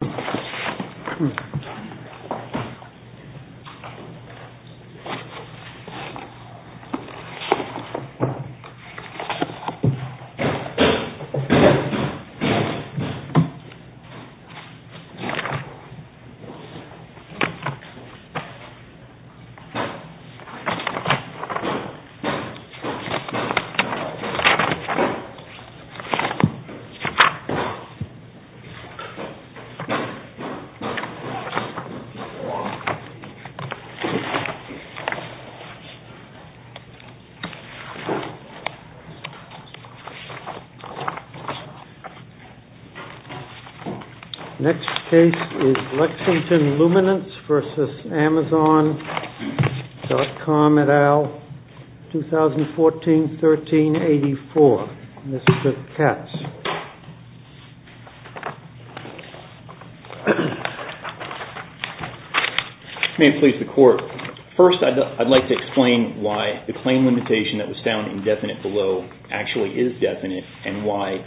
Come here. Next case is Lexington Luminance v. Amazon.com et al., 2014-13-84, Mr. Katz. May it please the court, first I'd like to explain why the claim limitation that was found indefinite below actually is definite and why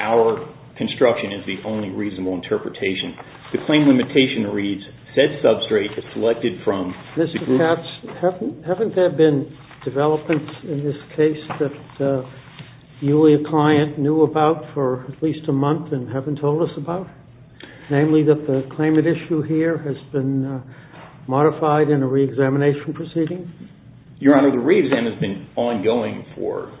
our construction is the only reasonable interpretation. The claim limitation reads, said substrate is selected from the group. Mr. Katz, haven't there been developments in this case that you or your client knew about for at least a month and haven't told us about, namely that the claimant issue here has been modified in a reexamination proceeding? Your Honor, the reexamination has been ongoing for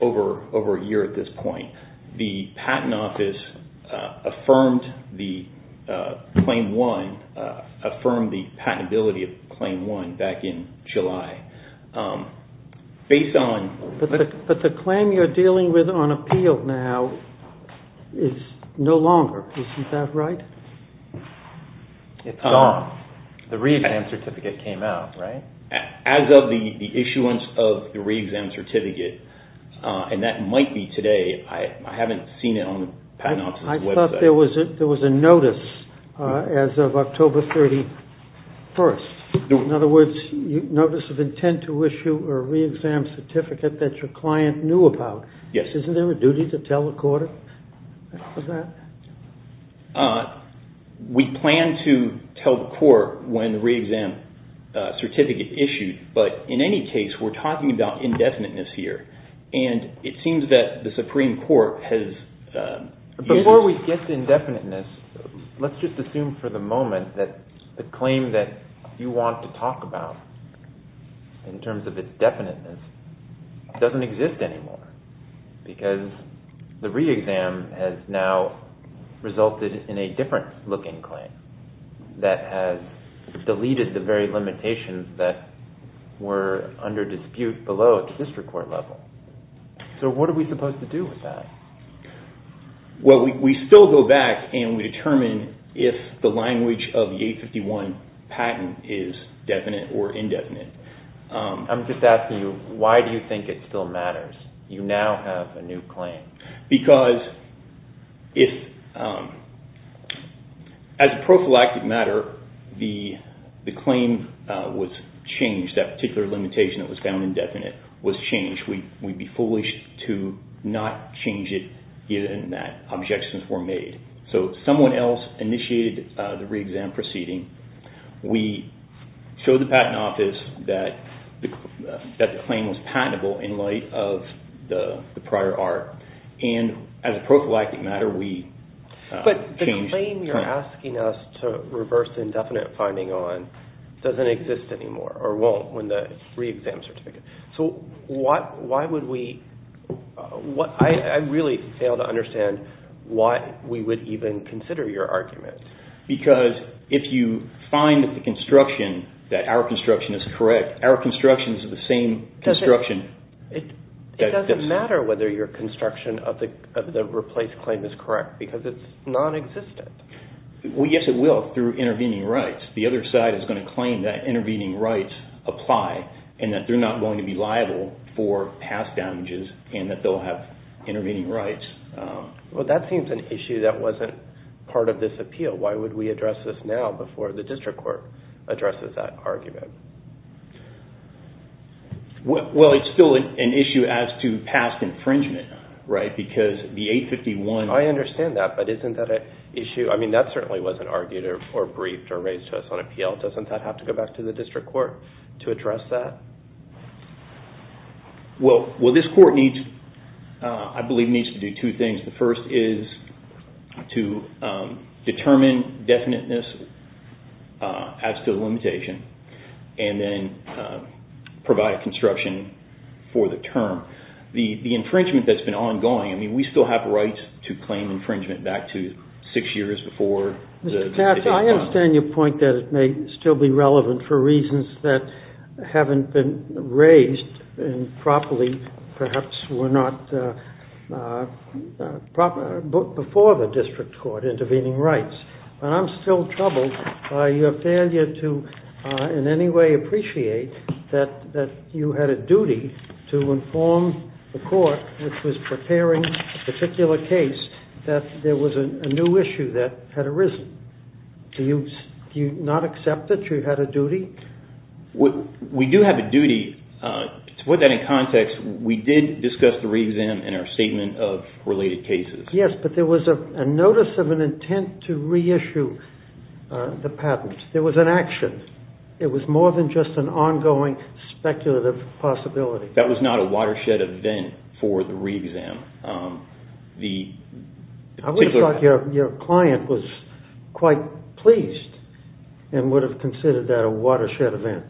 over a year at this point. The Patent Office affirmed the patentability of Claim 1 back in July, based on... But the claim you're dealing with on appeal now is no longer, isn't that right? It's gone. The reexamination certificate came out, right? As of the issuance of the reexamination certificate, and that might be today, I haven't seen it on the Patent Office's website. I thought there was a notice as of October 31st, in other words, notice of intent to issue a reexamination certificate that your client knew about. Yes. Isn't there a duty to tell the court of that? We plan to tell the court when the reexamination certificate is issued, but in any case, we're talking about indefiniteness here, and it seems that the Supreme Court has... Before we get to indefiniteness, let's just assume for the moment that the claim that you want to talk about, in terms of its definiteness, doesn't exist anymore, because the reexam has now resulted in a different looking claim that has deleted the very limitations that were under dispute below at the district court level. What are we supposed to do with that? We still go back and we determine if the language of the 851 patent is definite or indefinite. I'm just asking you, why do you think it still matters? You now have a new claim. Because as a prophylactic matter, the claim was changed, that particular limitation that was found indefinite was changed. We'd be foolish to not change it given that objections were made. Someone else initiated the reexam proceeding. We showed the patent office that the claim was patentable in light of the prior art, and as a prophylactic matter, we changed it. But the claim you're asking us to reverse indefinite finding on doesn't exist anymore, or won't when the reexam certificate... I really fail to understand why we would even consider your argument. Because if you find that the construction, that our construction is correct, our construction is the same construction that this... It doesn't matter whether your construction of the replaced claim is correct, because it's non-existent. Yes, it will through intervening rights. The other side is going to claim that intervening rights apply, and that they're not going to be liable for past damages, and that they'll have intervening rights. That seems an issue that wasn't part of this appeal. Why would we address this now before the district court addresses that argument? Well, it's still an issue as to past infringement, right? Because the 851... I understand that, but isn't that an issue? That certainly wasn't argued, or briefed, or raised to us on appeal. Doesn't that have to go back to the district court to address that? Well, this court, I believe, needs to do two things. The first is to determine definiteness as to the limitation. And then provide construction for the term. The infringement that's been ongoing, I mean, we still have rights to claim infringement back to six years before the... Mr. Katz, I understand your point that it may still be relevant for reasons that haven't been raised properly, perhaps were not before the district court intervening rights. But I'm still troubled by your failure to in any way appreciate that you had a duty to inform the court which was preparing a particular case that there was a new issue that had arisen. Do you not accept that you had a duty? We do have a duty. To put that in context, we did discuss the re-exam in our statement of related cases. Yes, but there was a notice of an intent to re-issue the patent. There was an action. It was more than just an ongoing speculative possibility. That was not a watershed event for the re-exam. I would have thought your client was quite pleased and would have considered that a watershed event.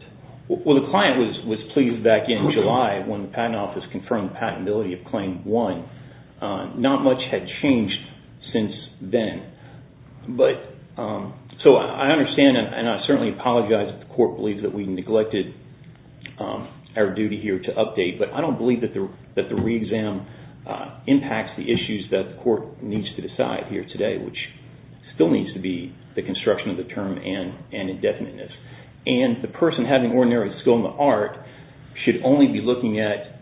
Well, the client was pleased back in July when the patent office confirmed the patentability of Claim 1. Not much had changed since then. I understand and I certainly apologize that the court believes that we neglected our duty here to update, but I don't believe that the re-exam impacts the issues that the court needs to decide here today, which still needs to be the construction of the term and indefiniteness. The person having ordinary skill in the art should only be looking at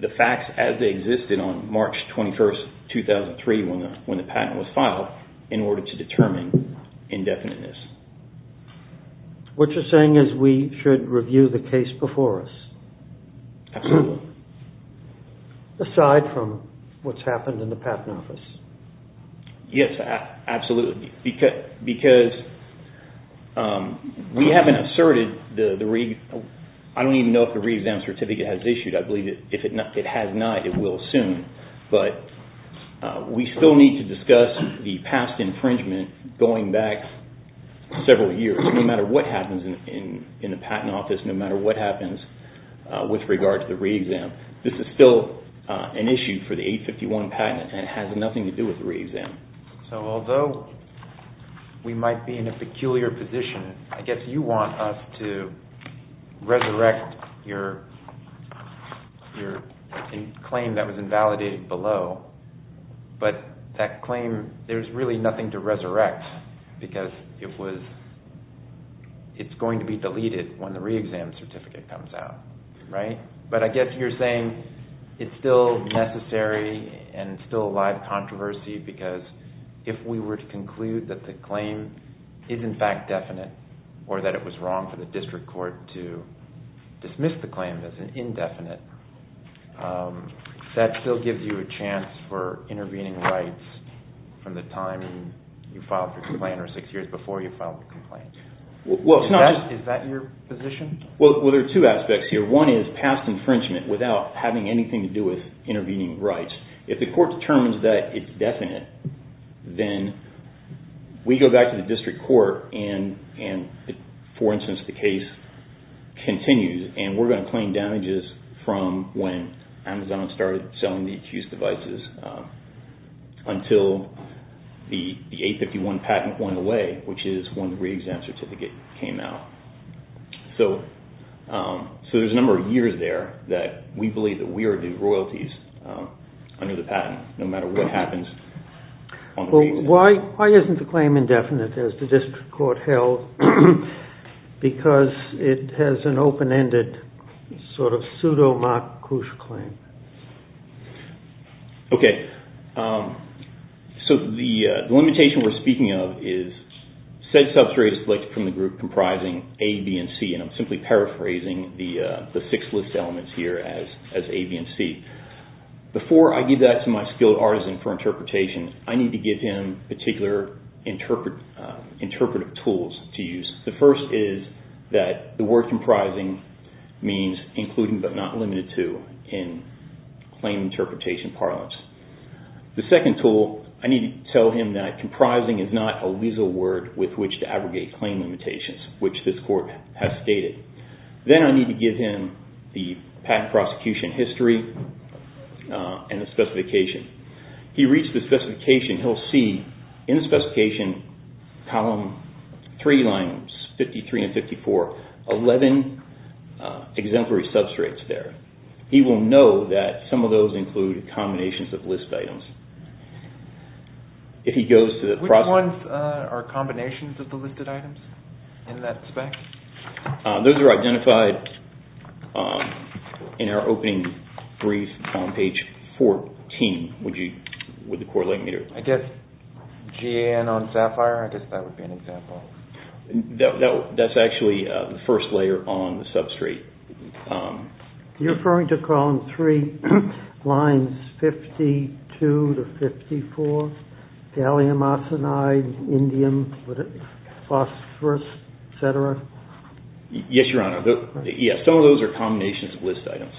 the facts as they did on March 21st, 2003 when the patent was filed in order to determine indefiniteness. What you're saying is we should review the case before us? Absolutely. Aside from what's happened in the patent office? Yes, absolutely. Because we haven't asserted the re-exam. I don't even know if the re-exam certificate has issued. I believe if it has not, it will soon. But we still need to discuss the past infringement going back several years. No matter what happens in the patent office, no matter what happens with regard to the re-exam, this is still an issue for the 851 patent and it has nothing to do with the re-exam. Although we might be in a peculiar position, I guess you want us to resurrect your claim that was invalidated below. But that claim, there's really nothing to resurrect because it's going to be deleted when the re-exam certificate comes out. But I guess you're saying it's still necessary and it's still a live controversy because if we were to conclude that the claim is in fact definite or that it was wrong for the district court to dismiss the claim as indefinite, that still gives you a chance for intervening rights from the time you filed the complaint or six years before you filed the complaint. Is that your position? Well, there are two aspects here. One is past infringement without having anything to do with intervening rights. If the court determines that it's definite, then we go back to the district court and for instance, the case continues and we're going to claim damages from when Amazon started selling the accused devices until the 851 patent went away, which is when the re-exam certificate came out. So there's a number of years there that we believe that we are the royalties under the patent, no matter what happens. Well, why isn't the claim indefinite as the district court held because it has an open-ended sort of pseudo-MacRouche claim? Okay. So the limitation we're speaking of is said substrate is selected from the group comprising A, B, and C and I'm simply paraphrasing the six list elements here as A, B, and C. Before I give that to my skilled artisan for interpretation, I need to give him particular interpretive tools to use. The first is that the word comprising means including but not limited to in claim interpretation parlance. The second tool, I need to tell him that comprising is not a legal word with which to abrogate claim limitations, which this court has stated. Then I need to give him the patent prosecution history and the specification. He reads the specification, he'll see in the specification column three lines 53 and 54, 11 exemplary substrates there. He will know that some of those include combinations of list items. Which ones are combinations of the listed items in that spec? Those are identified in our opening brief on page 14 with the correlate meter. I guess GAN on Sapphire, I guess that would be an example. That's actually the first layer on the substrate. You're referring to column three lines 52 to 54? Gallium arsenide, indium, phosphorus, etc.? Yes, Your Honor. Some of those are combinations of list items.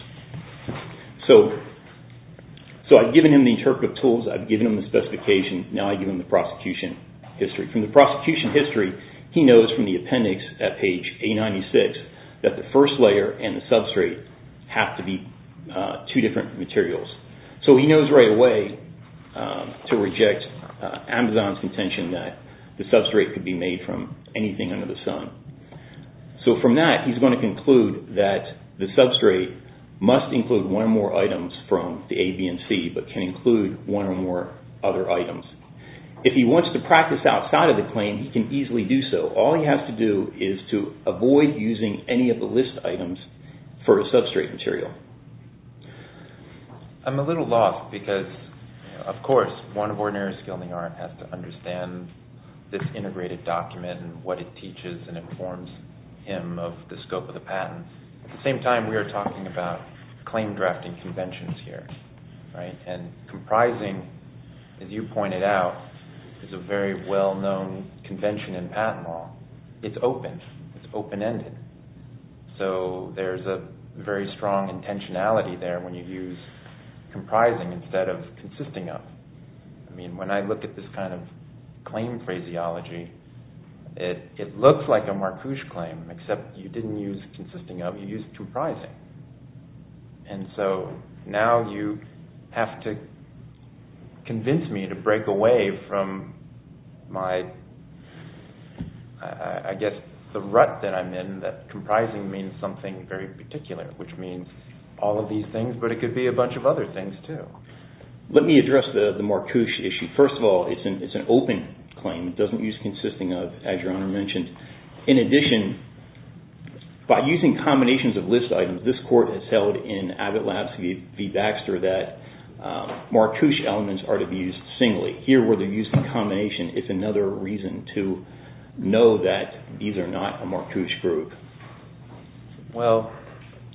I've given him the interpretive tools, I've given him the specification, now I give him the prosecution history. From the prosecution history, he knows from the appendix at page 896, that the first layer and the substrate have to be two different materials. He knows right away to reject Amazon's intention that the substrate could be made from anything under the sun. From that, he's going to conclude that the substrate must include one or more items from the A, B, and C, but can include one or more other items. If he wants to practice outside of the claim, he can easily do so. All he has to do is to avoid using any of the list items for a substrate material. I'm a little lost because, of course, one of ordinary skill in the art has to understand this integrated document and what it teaches and informs him of the scope of the patent. At the same time, we are talking about claim drafting conventions here. Comprising, as you pointed out, is a very well-known convention in patent law. It's open, it's open-ended. There's a very strong intentionality there when you use comprising instead of consisting of. When I look at this kind of claim phraseology, it looks like a Marcouche claim, except you didn't use consisting of, you used comprising. Now you have to convince me to break away from the rut that I'm in that comprising means something very particular, which means all of these things, but it could be a bunch of other things, too. Let me address the Marcouche issue. First of all, it's an open claim. It doesn't use consisting of, as Your Honor mentioned. In addition, by using combinations of list items, this Court has held in Abbott Labs v. Baxter that Marcouche elements are to be used singly. Here, where they're using combination, it's another reason to know that these are not a Marcouche group. Well,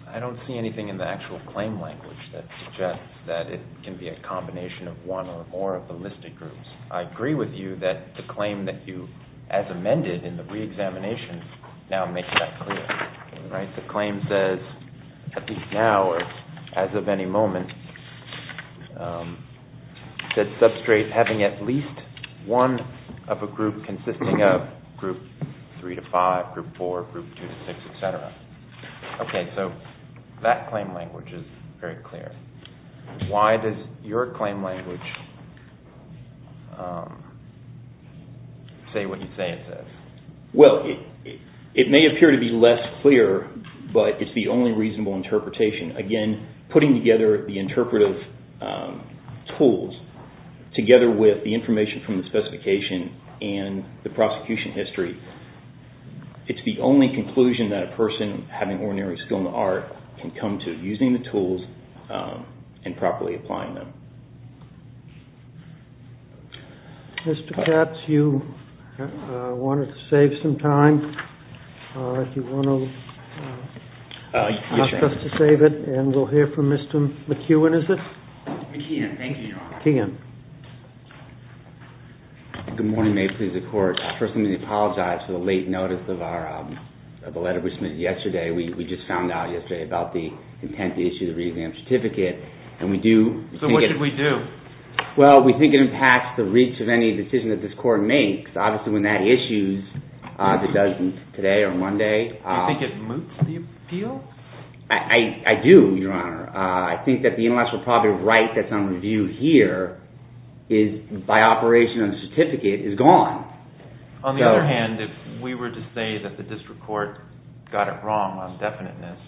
I don't see anything in the actual claim language that suggests that it can be a combination of one or more of the listed groups. I agree with you that the claim that you, as amended in the reexamination, now makes that clear. The claim says, at least now or as of any moment, that substrate having at least one of a group consisting of group 3-5, group 4, group 2-6, etc. Okay, so that claim language is very clear. Why does your claim language say what you say it says? Well, it may appear to be less clear, but it's the only reasonable interpretation. Again, putting together the interpretive tools together with the information from the specification and the prosecution history, it's the only conclusion that a person having ordinary skill in the art can come to using the tools and properly applying them. Mr. Katz, you wanted to save some time. If you want to ask us to save it, and we'll hear from Mr. McKeown, is it? McKeown, thank you, Your Honor. McKeown. Good morning. May it please the Court. First, let me apologize for the late notice of a letter we submitted yesterday. We just found out yesterday about the intent to issue the reexamination certificate. So what should we do? Well, we think it impacts the reach of any decision that this Court makes. Obviously, when that issues, if it does today or Monday… Do you think it moots the appeal? I do, Your Honor. I think that the intellectual property right that's on review here, by operation of the certificate, is gone. On the other hand, if we were to say that the district court got it wrong on definiteness,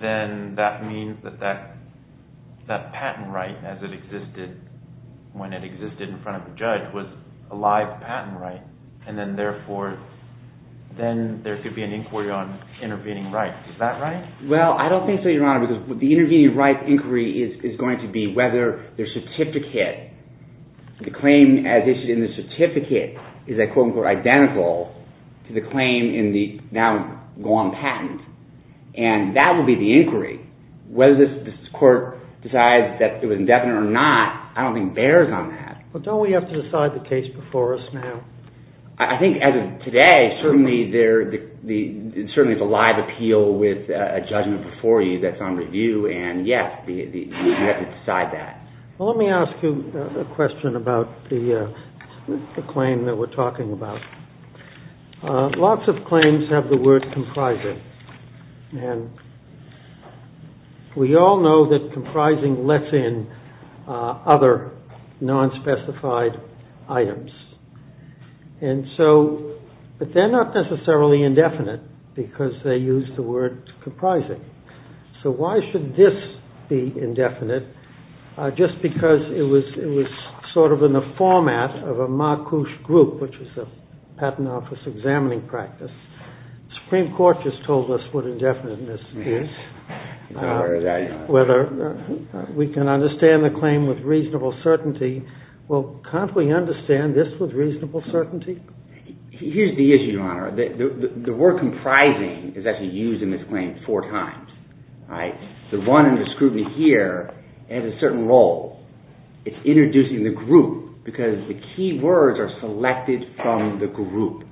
then that means that that patent right, as it existed when it existed in front of the judge, was a live patent right. And then, therefore, then there could be an inquiry on intervening rights. Is that right? Well, I don't think so, Your Honor, because the intervening rights inquiry is going to be whether the certificate, the claim as issued in the certificate, is, I quote-unquote, identical to the claim in the now-gone patent. And that will be the inquiry. Whether this Court decides that it was indefinite or not, I don't think bears on that. But don't we have to decide the case before us now? I think, as of today, certainly there's a live appeal with a judgment before you that's on review. And, yes, we have to decide that. Well, let me ask you a question about the claim that we're talking about. Lots of claims have the word comprising. And we all know that comprising lets in other non-specified items. And so, but they're not necessarily indefinite because they use the word comprising. So why should this be indefinite? Just because it was sort of in the format of a MACUS group, which is a patent office examining practice. The Supreme Court just told us what indefiniteness is. Whether we can understand the claim with reasonable certainty. Well, can't we understand this with reasonable certainty? Here's the issue, Your Honor. The word comprising is actually used in this claim four times. The one under scrutiny here has a certain role. It's introducing the group because the key words are selected from the group.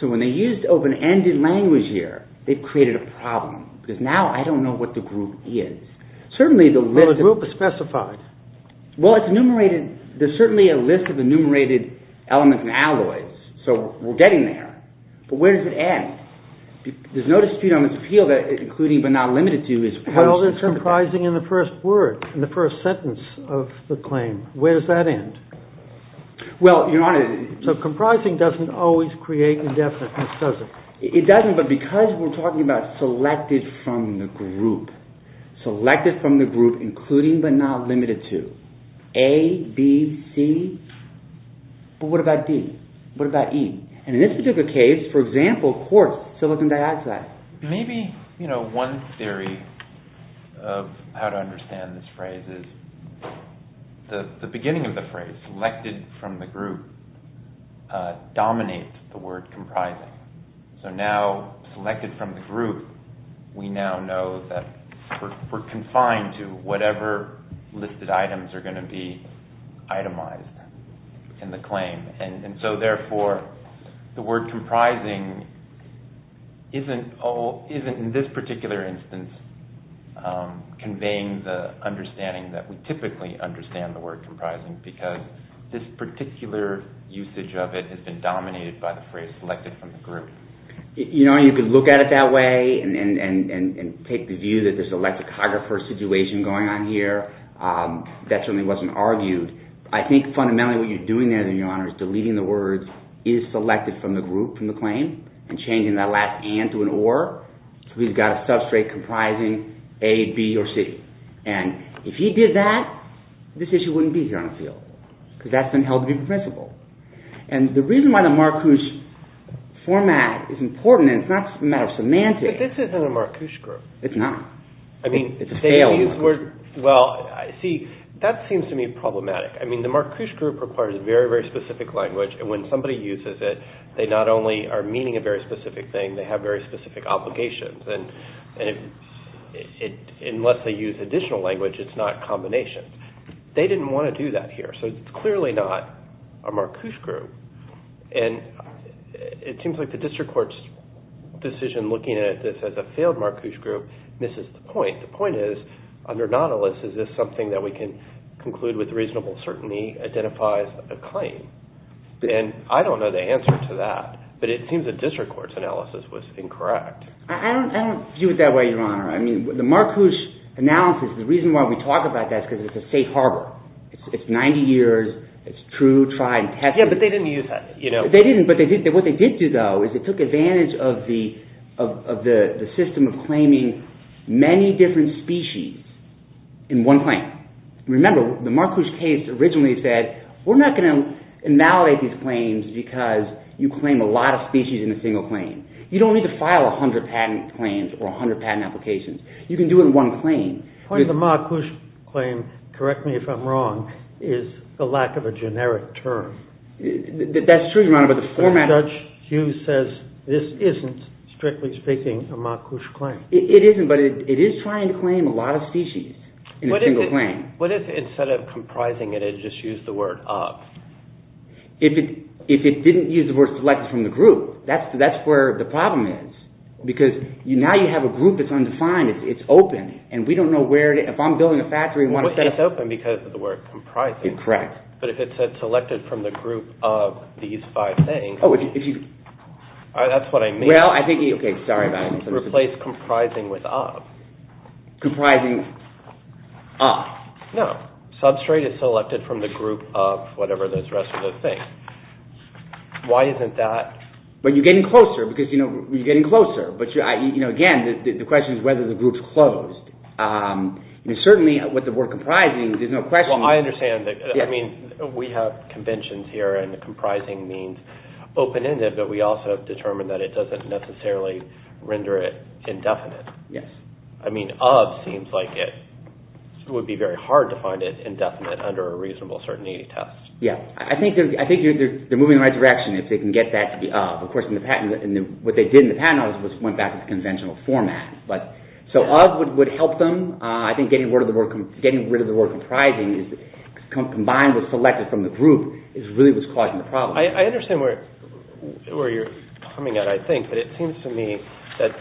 So when they used open-ended language here, they've created a problem. Because now I don't know what the group is. Well, the group is specified. Well, it's enumerated. There's certainly a list of enumerated elements and alloys. So we're getting there. But where does it end? There's no dispute on its appeal that including but not limited to is... Well, it's comprising in the first word, in the first sentence of the claim. Where does that end? Well, Your Honor... So comprising doesn't always create indefiniteness, does it? It doesn't, but because we're talking about selected from the group. Selected from the group, including but not limited to. A, B, C. But what about D? What about E? And in this particular case, for example, quartz, silicon dioxide. Maybe one theory of how to understand this phrase is the beginning of the phrase, selected from the group, dominates the word comprising. So now, selected from the group, we now know that we're confined to whatever listed items are going to be itemized in the claim. And so, therefore, the word comprising isn't, in this particular instance, conveying the understanding that we typically understand the word comprising because this particular usage of it has been dominated by the phrase, selected from the group. You know, you could look at it that way and take the view that there's an electricographer situation going on here. That certainly wasn't argued. I think, fundamentally, what you're doing there, Your Honor, is deleting the words, is selected from the group, from the claim, and changing that last and to an or. So we've got a substrate comprising A, B, or C. And if he did that, this issue wouldn't be here on the field because that's been held to be permissible. And the reason why the Marcouch format is important, and it's not a matter of semantics. But this isn't a Marcouch group. It's not. It's a failed one. Well, see, that seems to me problematic. I mean, the Marcouch group requires a very, very specific language. And when somebody uses it, they not only are meaning a very specific thing, they have very specific obligations. And unless they use additional language, it's not a combination. They didn't want to do that here. So it's clearly not a Marcouch group. And it seems like the district court's decision looking at this as a failed Marcouch group misses the point. The point is, under Nautilus, is this something that we can conclude with reasonable certainty identifies a claim? And I don't know the answer to that. But it seems the district court's analysis was incorrect. I don't view it that way, Your Honor. I mean, the Marcouch analysis, the reason why we talk about that is because it's a safe harbor. It's 90 years. It's true, tried, tested. Yeah, but they didn't use that. They didn't, but what they did do, though, is they took advantage of the system of claiming many different species in one claim. Remember, the Marcouch case originally said, we're not going to invalidate these claims because you claim a lot of species in a single claim. You don't need to file 100 patent claims or 100 patent applications. You can do it in one claim. The point of the Marcouch claim, correct me if I'm wrong, is the lack of a generic term. That's true, Your Honor, but the format— Judge Hughes says this isn't, strictly speaking, a Marcouch claim. It isn't, but it is trying to claim a lot of species in a single claim. What if instead of comprising it, it just used the word of? If it didn't use the word selected from the group, that's where the problem is because now you have a group that's undefined. It's open, and we don't know where to— It's open because of the word comprising. Correct. But if it said selected from the group of these five things— Oh, if you— That's what I mean. Well, I think—okay, sorry about that. Replace comprising with of. Comprising of. No. Substrate is selected from the group of whatever the rest of those things. Why isn't that— Well, you're getting closer because, you know, you're getting closer. Again, the question is whether the group's closed. Certainly, with the word comprising, there's no question— Well, I understand. I mean, we have conventions here, and comprising means open-ended, but we also have determined that it doesn't necessarily render it indefinite. Yes. I mean, of seems like it would be very hard to find it indefinite under a reasonable certainty test. Yeah. I think they're moving in the right direction if they can get that to be of. Of course, what they did in the patent office was went back to the conventional format. So, of would help them. I think getting rid of the word comprising combined with selected from the group really was causing the problem. I understand where you're coming at, I think, but it seems to me that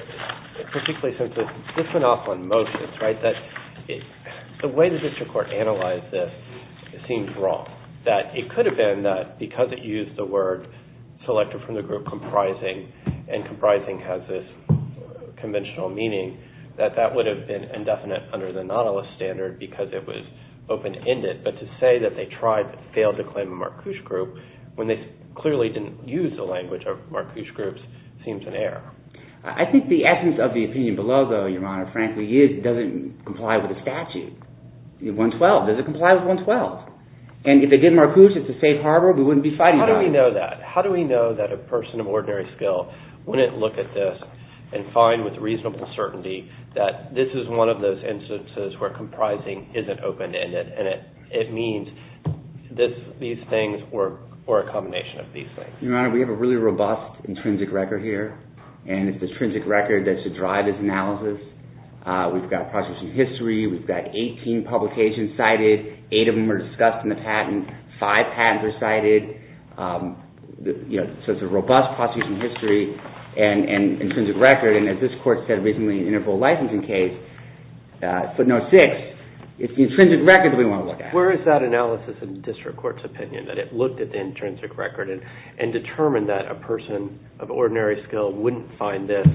particularly since it's different off on motions, right, that the way the district court analyzed this seemed wrong, that it could have been that because it used the word selected from the group comprising and comprising has this conventional meaning, that that would have been indefinite under the Nautilus standard because it was open-ended. But to say that they tried but failed to claim a Marcouche group when they clearly didn't use the language of Marcouche groups seems an error. I think the essence of the opinion below, though, Your Honor, frankly, is it doesn't comply with the statute. 112. Does it comply with 112? And if they did Marcouche, it's a safe harbor. We wouldn't be fighting about it. How do we know that? A person of ordinary skill wouldn't look at this and find with reasonable certainty that this is one of those instances where comprising isn't open-ended and it means these things or a combination of these things. Your Honor, we have a really robust intrinsic record here, and it's intrinsic record that should drive this analysis. We've got processing history. We've got 18 publications cited. Eight of them are discussed in the patent. Five patents are cited. So it's a robust processing history and intrinsic record, and as this court said recently in the interval licensing case, footnote six, it's the intrinsic record that we want to look at. Where is that analysis in the district court's opinion that it looked at the intrinsic record and determined that a person of ordinary skill wouldn't find this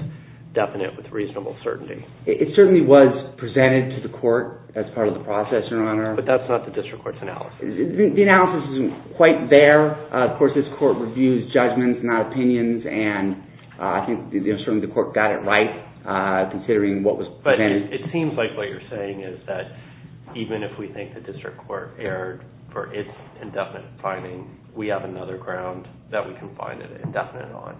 definite with reasonable certainty? It certainly was presented to the court as part of the process, Your Honor. But that's not the district court's analysis. The analysis isn't quite there. Of course, this court reviews judgments, not opinions, and I think certainly the court got it right, considering what was presented. But it seems like what you're saying is that even if we think the district court erred for its indefinite finding, we have another ground that we can find it indefinite on.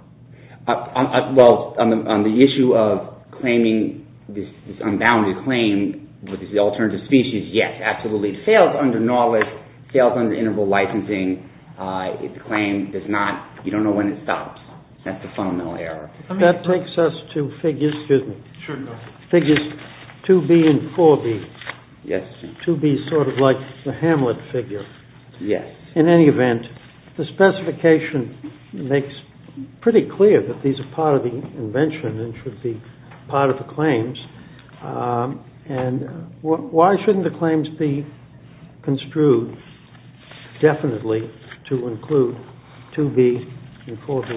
Well, on the issue of claiming this unbounded claim with the alternative species, yes, absolutely. It fails under knowledge, fails under interval licensing. The claim does not, you don't know when it stops. That's a fundamental error. That takes us to figures 2B and 4B. Yes. 2B is sort of like the Hamlet figure. Yes. In any event, the specification makes pretty clear that these are part of the invention and should be part of the claims. And why shouldn't the claims be construed definitely to include 2B and 4B?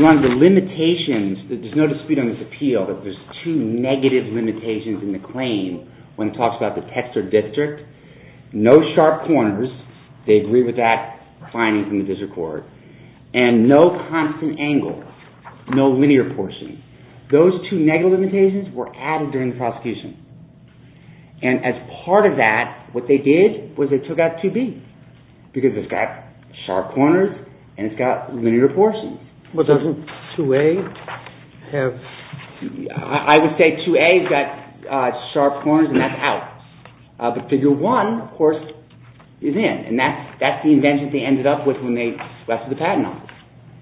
One of the limitations, there's no dispute on this appeal, but there's two negative limitations in the claim when it talks about the text or district. No sharp corners. They agree with that finding from the district court. And no constant angle. No linear portion. Those two negative limitations were added during the prosecution. And as part of that, what they did was they took out 2B because it's got sharp corners and it's got linear portion. But doesn't 2A have... I would say 2A has got sharp corners and that's out. But figure 1, of course, is in. And that's the invention they ended up with when they left the patent on.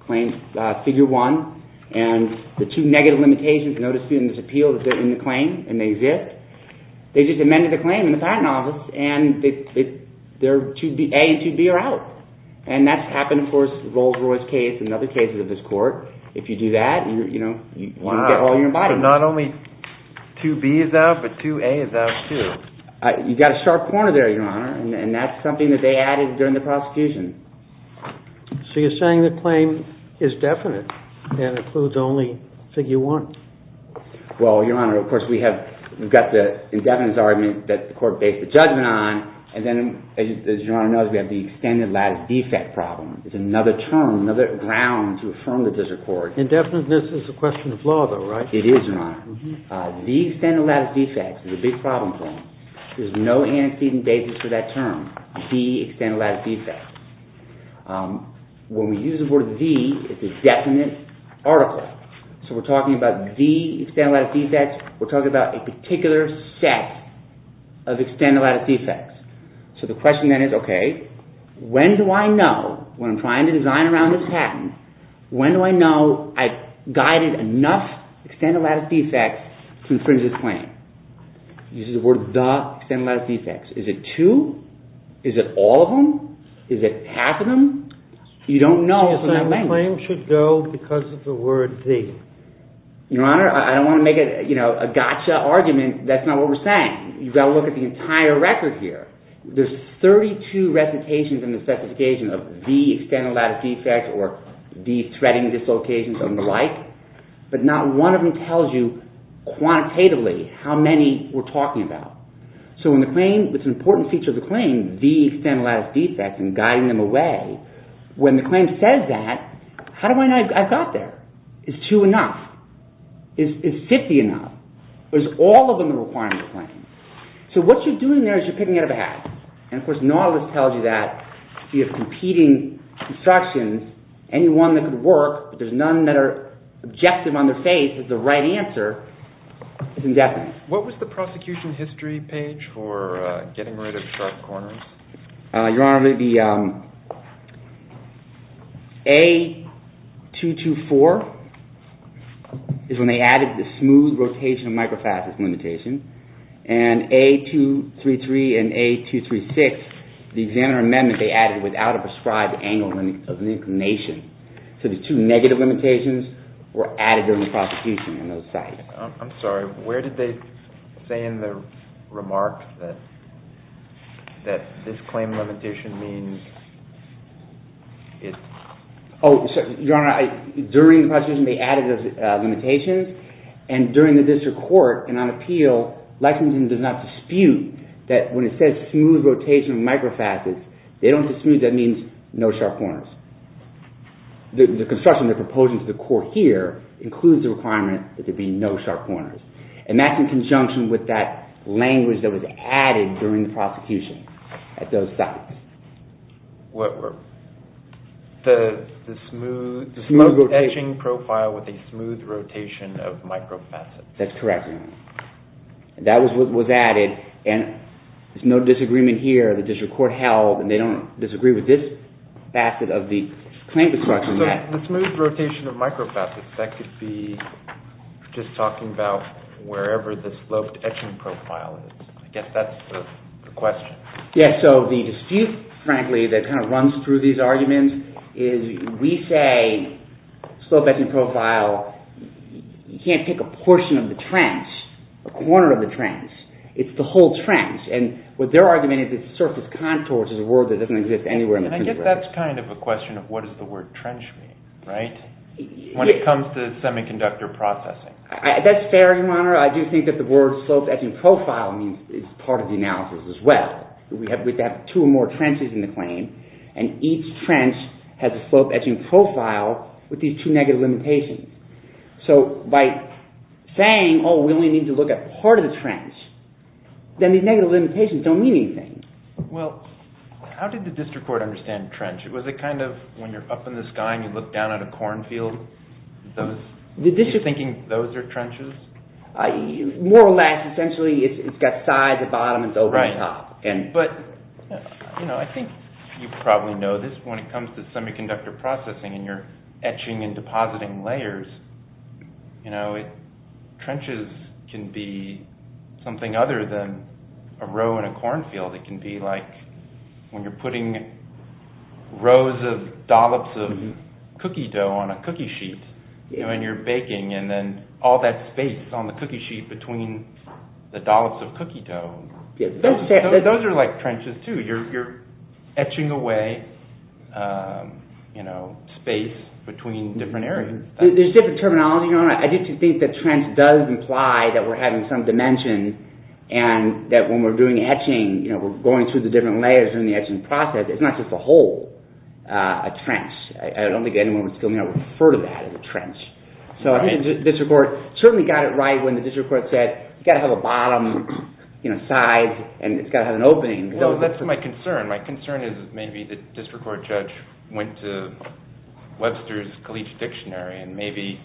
Claim figure 1. And the two negative limitations, no dispute on this appeal, that's in the claim and they exist. They just amended the claim in the patent office and A and 2B are out. And that's happened, of course, in the Rolls-Royce case and other cases of this court. If you do that, you can get all your money. So not only 2B is out, but 2A is out too. You've got a sharp corner there, Your Honor. And that's something that they added during the prosecution. So you're saying the claim is definite and includes only figure 1. Well, Your Honor, of course, we've got the indefinite argument that the court based the judgment on and then, as Your Honor knows, we have the extended lattice defect problem. It's another term, another ground to affirm the district court. Indefiniteness is a question of law, though, right? It is, Your Honor. The extended lattice defect is a big problem for them. There's no antecedent basis for that term, the extended lattice defect. When we use the word the, it's a definite article. So we're talking about the extended lattice defects. We're talking about a particular set of extended lattice defects. So the question then is, OK, when do I know, when I'm trying to design around this patent, when do I know I've guided enough extended lattice defects to infringe this claim? Use the word the extended lattice defects. Is it two? Is it all of them? Is it half of them? You don't know from that language. You're saying the claim should go because of the word the. Your Honor, I don't want to make a gotcha argument. That's not what we're saying. You've got to look at the entire record here. There's 32 recitations in the specification of the extended lattice defects or the threading dislocations and the like, but not one of them tells you quantitatively how many we're talking about. So in the claim, it's an important feature of the claim, the extended lattice defects and guiding them away. When the claim says that, how do I know I've got there? Is two enough? Is 50 enough? Is all of them a requirement of the claim? So what you're doing there is you're picking out of a hat. And of course, not all of this tells you that. You have competing instructions. Any one that could work, but there's none that are objective on their face that the right answer is indefinite. What was the prosecution history page for getting rid of sharp corners? Your Honor, the A224 is when they added the smooth rotation of microfascist limitation. And A233 and A236, the examiner amendment, they added without a prescribed angle of inclination. So the two negative limitations were added during the prosecution in those sites. I'm sorry. Where did they say in the remark that this claim limitation means it's... Your Honor, during the prosecution, they added those limitations. And during the district court and on appeal, Lexington does not dispute that when it says smooth rotation of microfascists, they don't dispute that means no sharp corners. The construction they're proposing to the court here includes the requirement that there be no sharp corners. And that's in conjunction with that language that was added during the prosecution at those sites. What were... The smooth... The smooth rotation. ...etching profile with a smooth rotation of microfascists. That's correct, Your Honor. That was what was added. And there's no disagreement here. The district court held and they don't disagree with this facet of the claim construction yet. The smooth rotation of microfascists, that could be just talking about wherever the sloped etching profile is. I guess that's the question. Yes, so the dispute, frankly, that kind of runs through these arguments is we say sloped etching profile, you can't pick a portion of the trench, a corner of the trench. It's the whole trench. is a word that doesn't exist anywhere in the truth. I guess that's kind of a question of what does the word trench mean, right? When it comes to semiconductor processing. That's fair, Your Honor. I do think that the word sloped etching profile is part of the analysis as well. We have two or more trenches in the claim and each trench has a sloped etching profile with these two negative limitations. So by saying, oh, we only need to look at part of the trench, then these negative limitations don't mean anything. Well, how did the district court understand trench? Was it kind of when you're up in the sky and you look down at a cornfield, you're thinking those are trenches? More or less, essentially, it's got sides, a bottom, and it's over the top. Right, but I think you probably know this. When it comes to semiconductor processing and you're etching and depositing layers, trenches can be something other than a row in a cornfield. It can be like when you're putting rows of dollops of cookie dough on a cookie sheet when you're baking and then all that space on the cookie sheet between the dollops of cookie dough. Those are like trenches too. You're etching away space between different areas. There's different terminology, Your Honor. I do think that trench does imply that we're having some dimension and that when we're doing etching, we're going through the different layers during the etching process. It's not just a hole, a trench. I don't think anyone would still refer to that as a trench. So I think the district court certainly got it right when the district court said it's got to have a bottom, sides, and it's got to have an opening. Well, that's my concern. My concern is maybe the district court judge went to Webster's Caliche Dictionary and maybe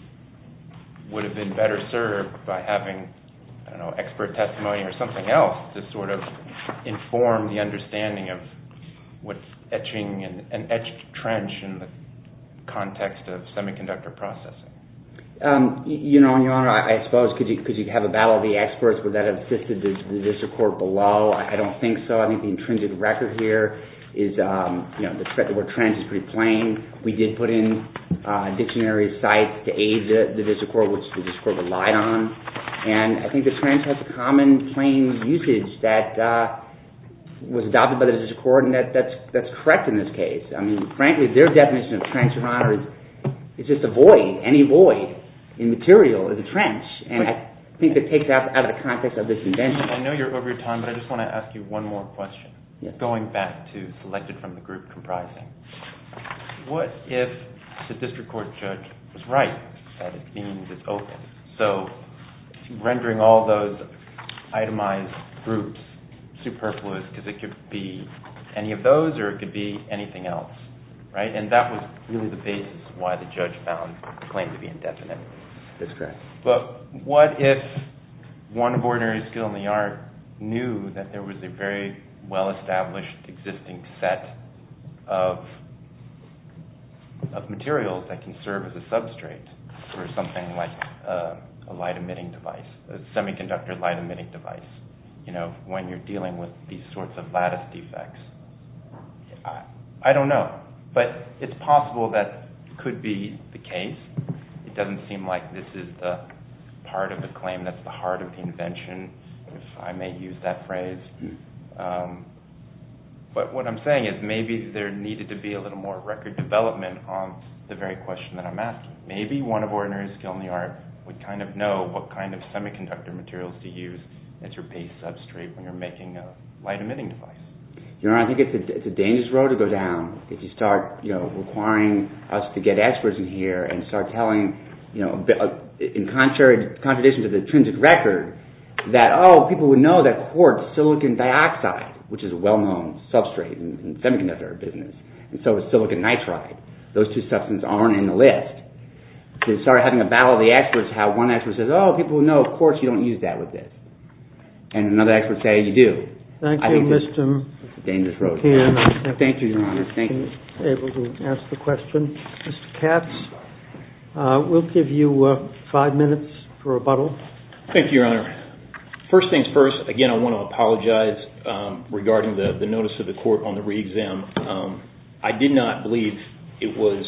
would have been better served by having expert testimony or something else to sort of inform the understanding of what's an etched trench in the context of semiconductor processing. Your Honor, I suppose because you have a battle of the experts, would that have assisted the district court below? I don't think so. I think the intrinsic record here is the threat of a trench is pretty plain. We did put in dictionary sites to aid the district court, which the district court relied on, and I think the trench has a common plain usage that was adopted by the district court, and that's correct in this case. I mean, frankly, their definition of trench, Your Honor, is just a void, any void in material in the trench, and I think that takes out of the context of this invention. I know you're over your time, but I just want to ask you one more question going back to selected from the group comprising. What if the district court judge was right that it means it's open? So rendering all those itemized groups superfluous because it could be any of those or it could be anything else, right? And that was really the basis why the judge found the claim to be indefinite. That's correct. But what if one of ordinary skill in the art knew that there was a very well-established existing set of materials that can serve as a substrate for something like a light-emitting device, a semiconductor light-emitting device when you're dealing with these sorts of lattice defects? I don't know, but it's possible that could be the case. It doesn't seem like this is the part of the claim that's the heart of the invention, if I may use that phrase. But what I'm saying is maybe there needed to be a little more record development on the very question that I'm asking. Maybe one of ordinary skill in the art would kind of know what kind of semiconductor materials to use as your base substrate when you're making a light-emitting device. I think it's a dangerous road to go down if you start requiring us to get experts in here and start telling in contradiction to the intrinsic record that people would know that quartz silicon dioxide, which is a well-known substrate in the semiconductor business. And so is silicon nitride. Those two substances aren't in the list. To start having a battle of the experts how one expert says, oh, people know quartz, you don't use that with this. And another expert says, yeah, you do. Thank you, Mr... It's a dangerous road. Thank you, Your Honor. Thank you for being able to ask the question. Mr. Katz, we'll give you five minutes for rebuttal. Thank you, Your Honor. First things first, again, I want to apologize regarding the notice of the court on the re-exam. I did not believe it was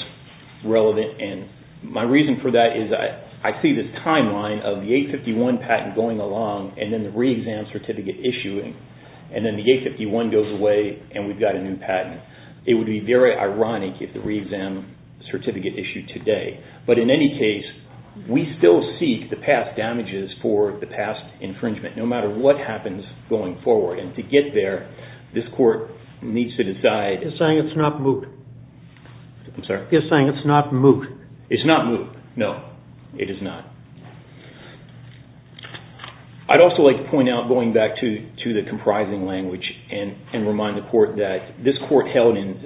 relevant. And my reason for that is I see this timeline of the 851 patent going along and then the re-exam certificate issuing. And then the 851 goes away and we've got a new patent. It would be very ironic if the re-exam certificate issued today. But in any case, we still seek the past damages for the past infringement no matter what happens going forward. And to get there, this court needs to decide... You're saying it's not moot. I'm sorry? You're saying it's not moot. It's not moot. No, it is not. I'd also like to point out, going back to the comprising language and remind the court that this court held in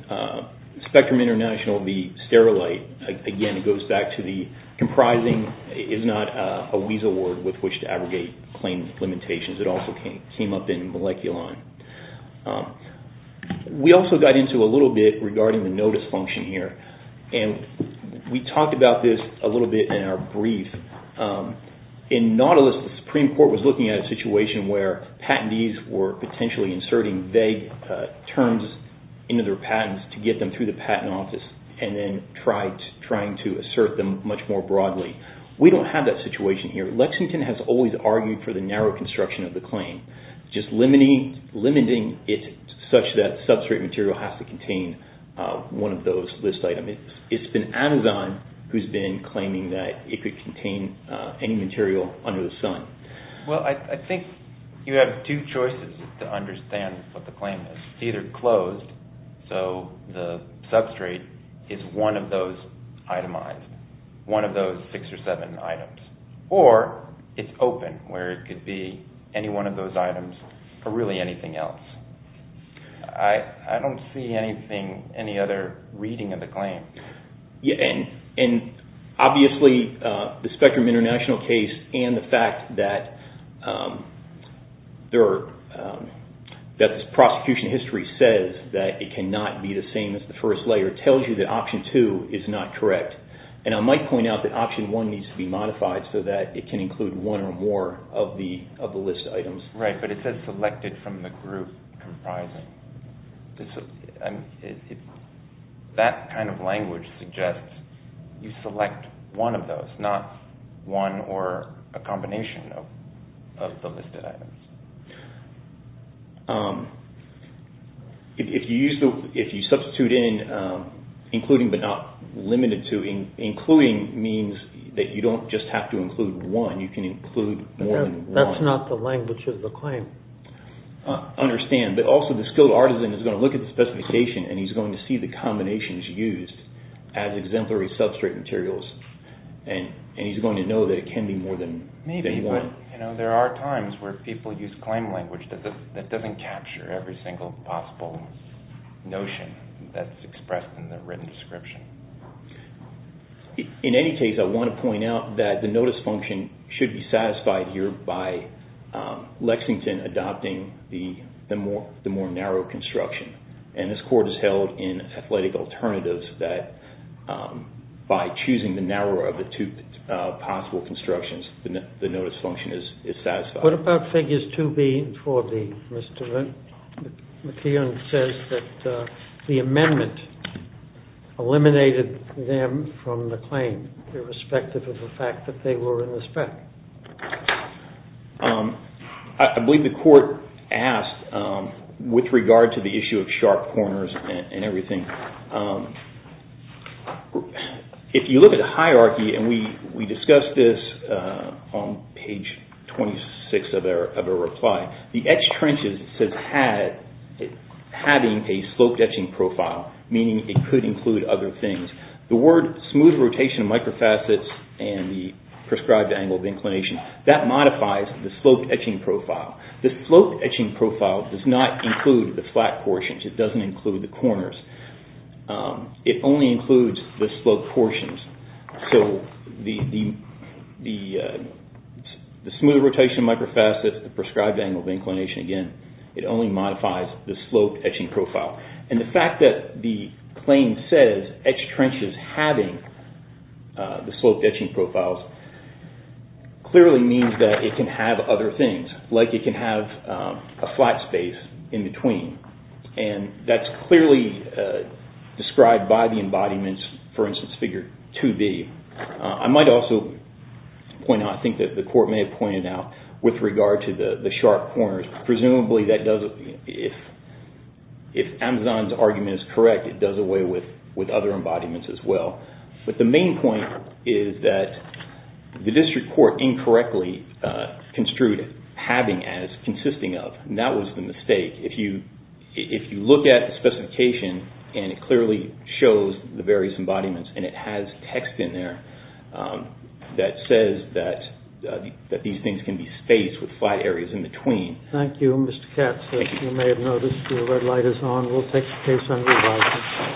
Spectrum International the sterolite, again, it goes back to the comprising is not a weasel word with which to abrogate claims limitations. It also came up in Moleculon. We also got into a little bit regarding the notice function here. And we talked about this a little bit in our brief. In Nautilus, the Supreme Court was looking at a situation where patentees were potentially inserting vague terms into their patents to get them through the patent office and then trying to assert them much more broadly. We don't have that situation here. Lexington has always argued for the narrow construction of the claim, just limiting it such that substrate material has to contain one of those list items. It's been Amazon who's been claiming that it could contain any material under the sun. Well, I think you have two choices to understand what the claim is. It's either closed, so the substrate is one of those itemized, one of those six or seven items. Or it's open, where it could be any one of those items or really anything else. I don't see any other reading of the claim. Obviously, the Spectrum International case and the fact that the prosecution of history says that it cannot be the same as the first layer tells you that option two is not correct. I might point out that option one needs to be modified so that it can include one or more of the list items. Right, but it says selected from the group comprising. That kind of language suggests you select one of those, not one or a combination of the listed items. If you substitute in including but not limited to, including means that you don't just have to include one. You can include more than one. That's not the language of the claim. I understand, but also the skilled artisan is going to look at the specification and he's going to see the combinations used as exemplary substrate materials and he's going to know that it can be more than one. But there are times where people use claim language that doesn't capture every single possible notion that's expressed in the written description. In any case, I want to point out that the notice function should be satisfied here by Lexington adopting the more narrow construction. This court has held in athletic alternatives that by choosing the narrower of the two possible constructions, the notice function is satisfied. What about figures 2B and 4B? McKeon says that the amendment eliminated them from the claim irrespective of the fact that they were in the spec. I believe the court asked with regard to the issue of sharp corners and everything. If you look at the hierarchy and we discussed this on page 26 of our reply, the etched trenches says having a sloped etching profile, meaning it could include other things. The word smooth rotation of microfacets and the prescribed angle of inclination, that modifies the sloped etching profile. The sloped etching profile does not include the flat portions. It doesn't include the corners. It only includes the sloped portions. The smooth rotation of microfacets, the prescribed angle of inclination again, it only modifies the sloped etching profile. The fact that the claim says etched trenches having the sloped etching profiles clearly means that it can have other things, like it can have a flat space in between. That's clearly described by the embodiments, for instance, figure 2B. I might also point out, I think the court may have pointed out, with regard to the sharp corners, presumably if Amazon's argument is correct, it does away with other embodiments as well. The main point is that the district court incorrectly construed having as consisting of. That was the mistake. If you look at the specification and it clearly shows the various embodiments and it has text in there that says that these things can be spaced with flat areas in between. Thank you, Mr. Katz. You may have noticed the red light is on. We'll take the case under review.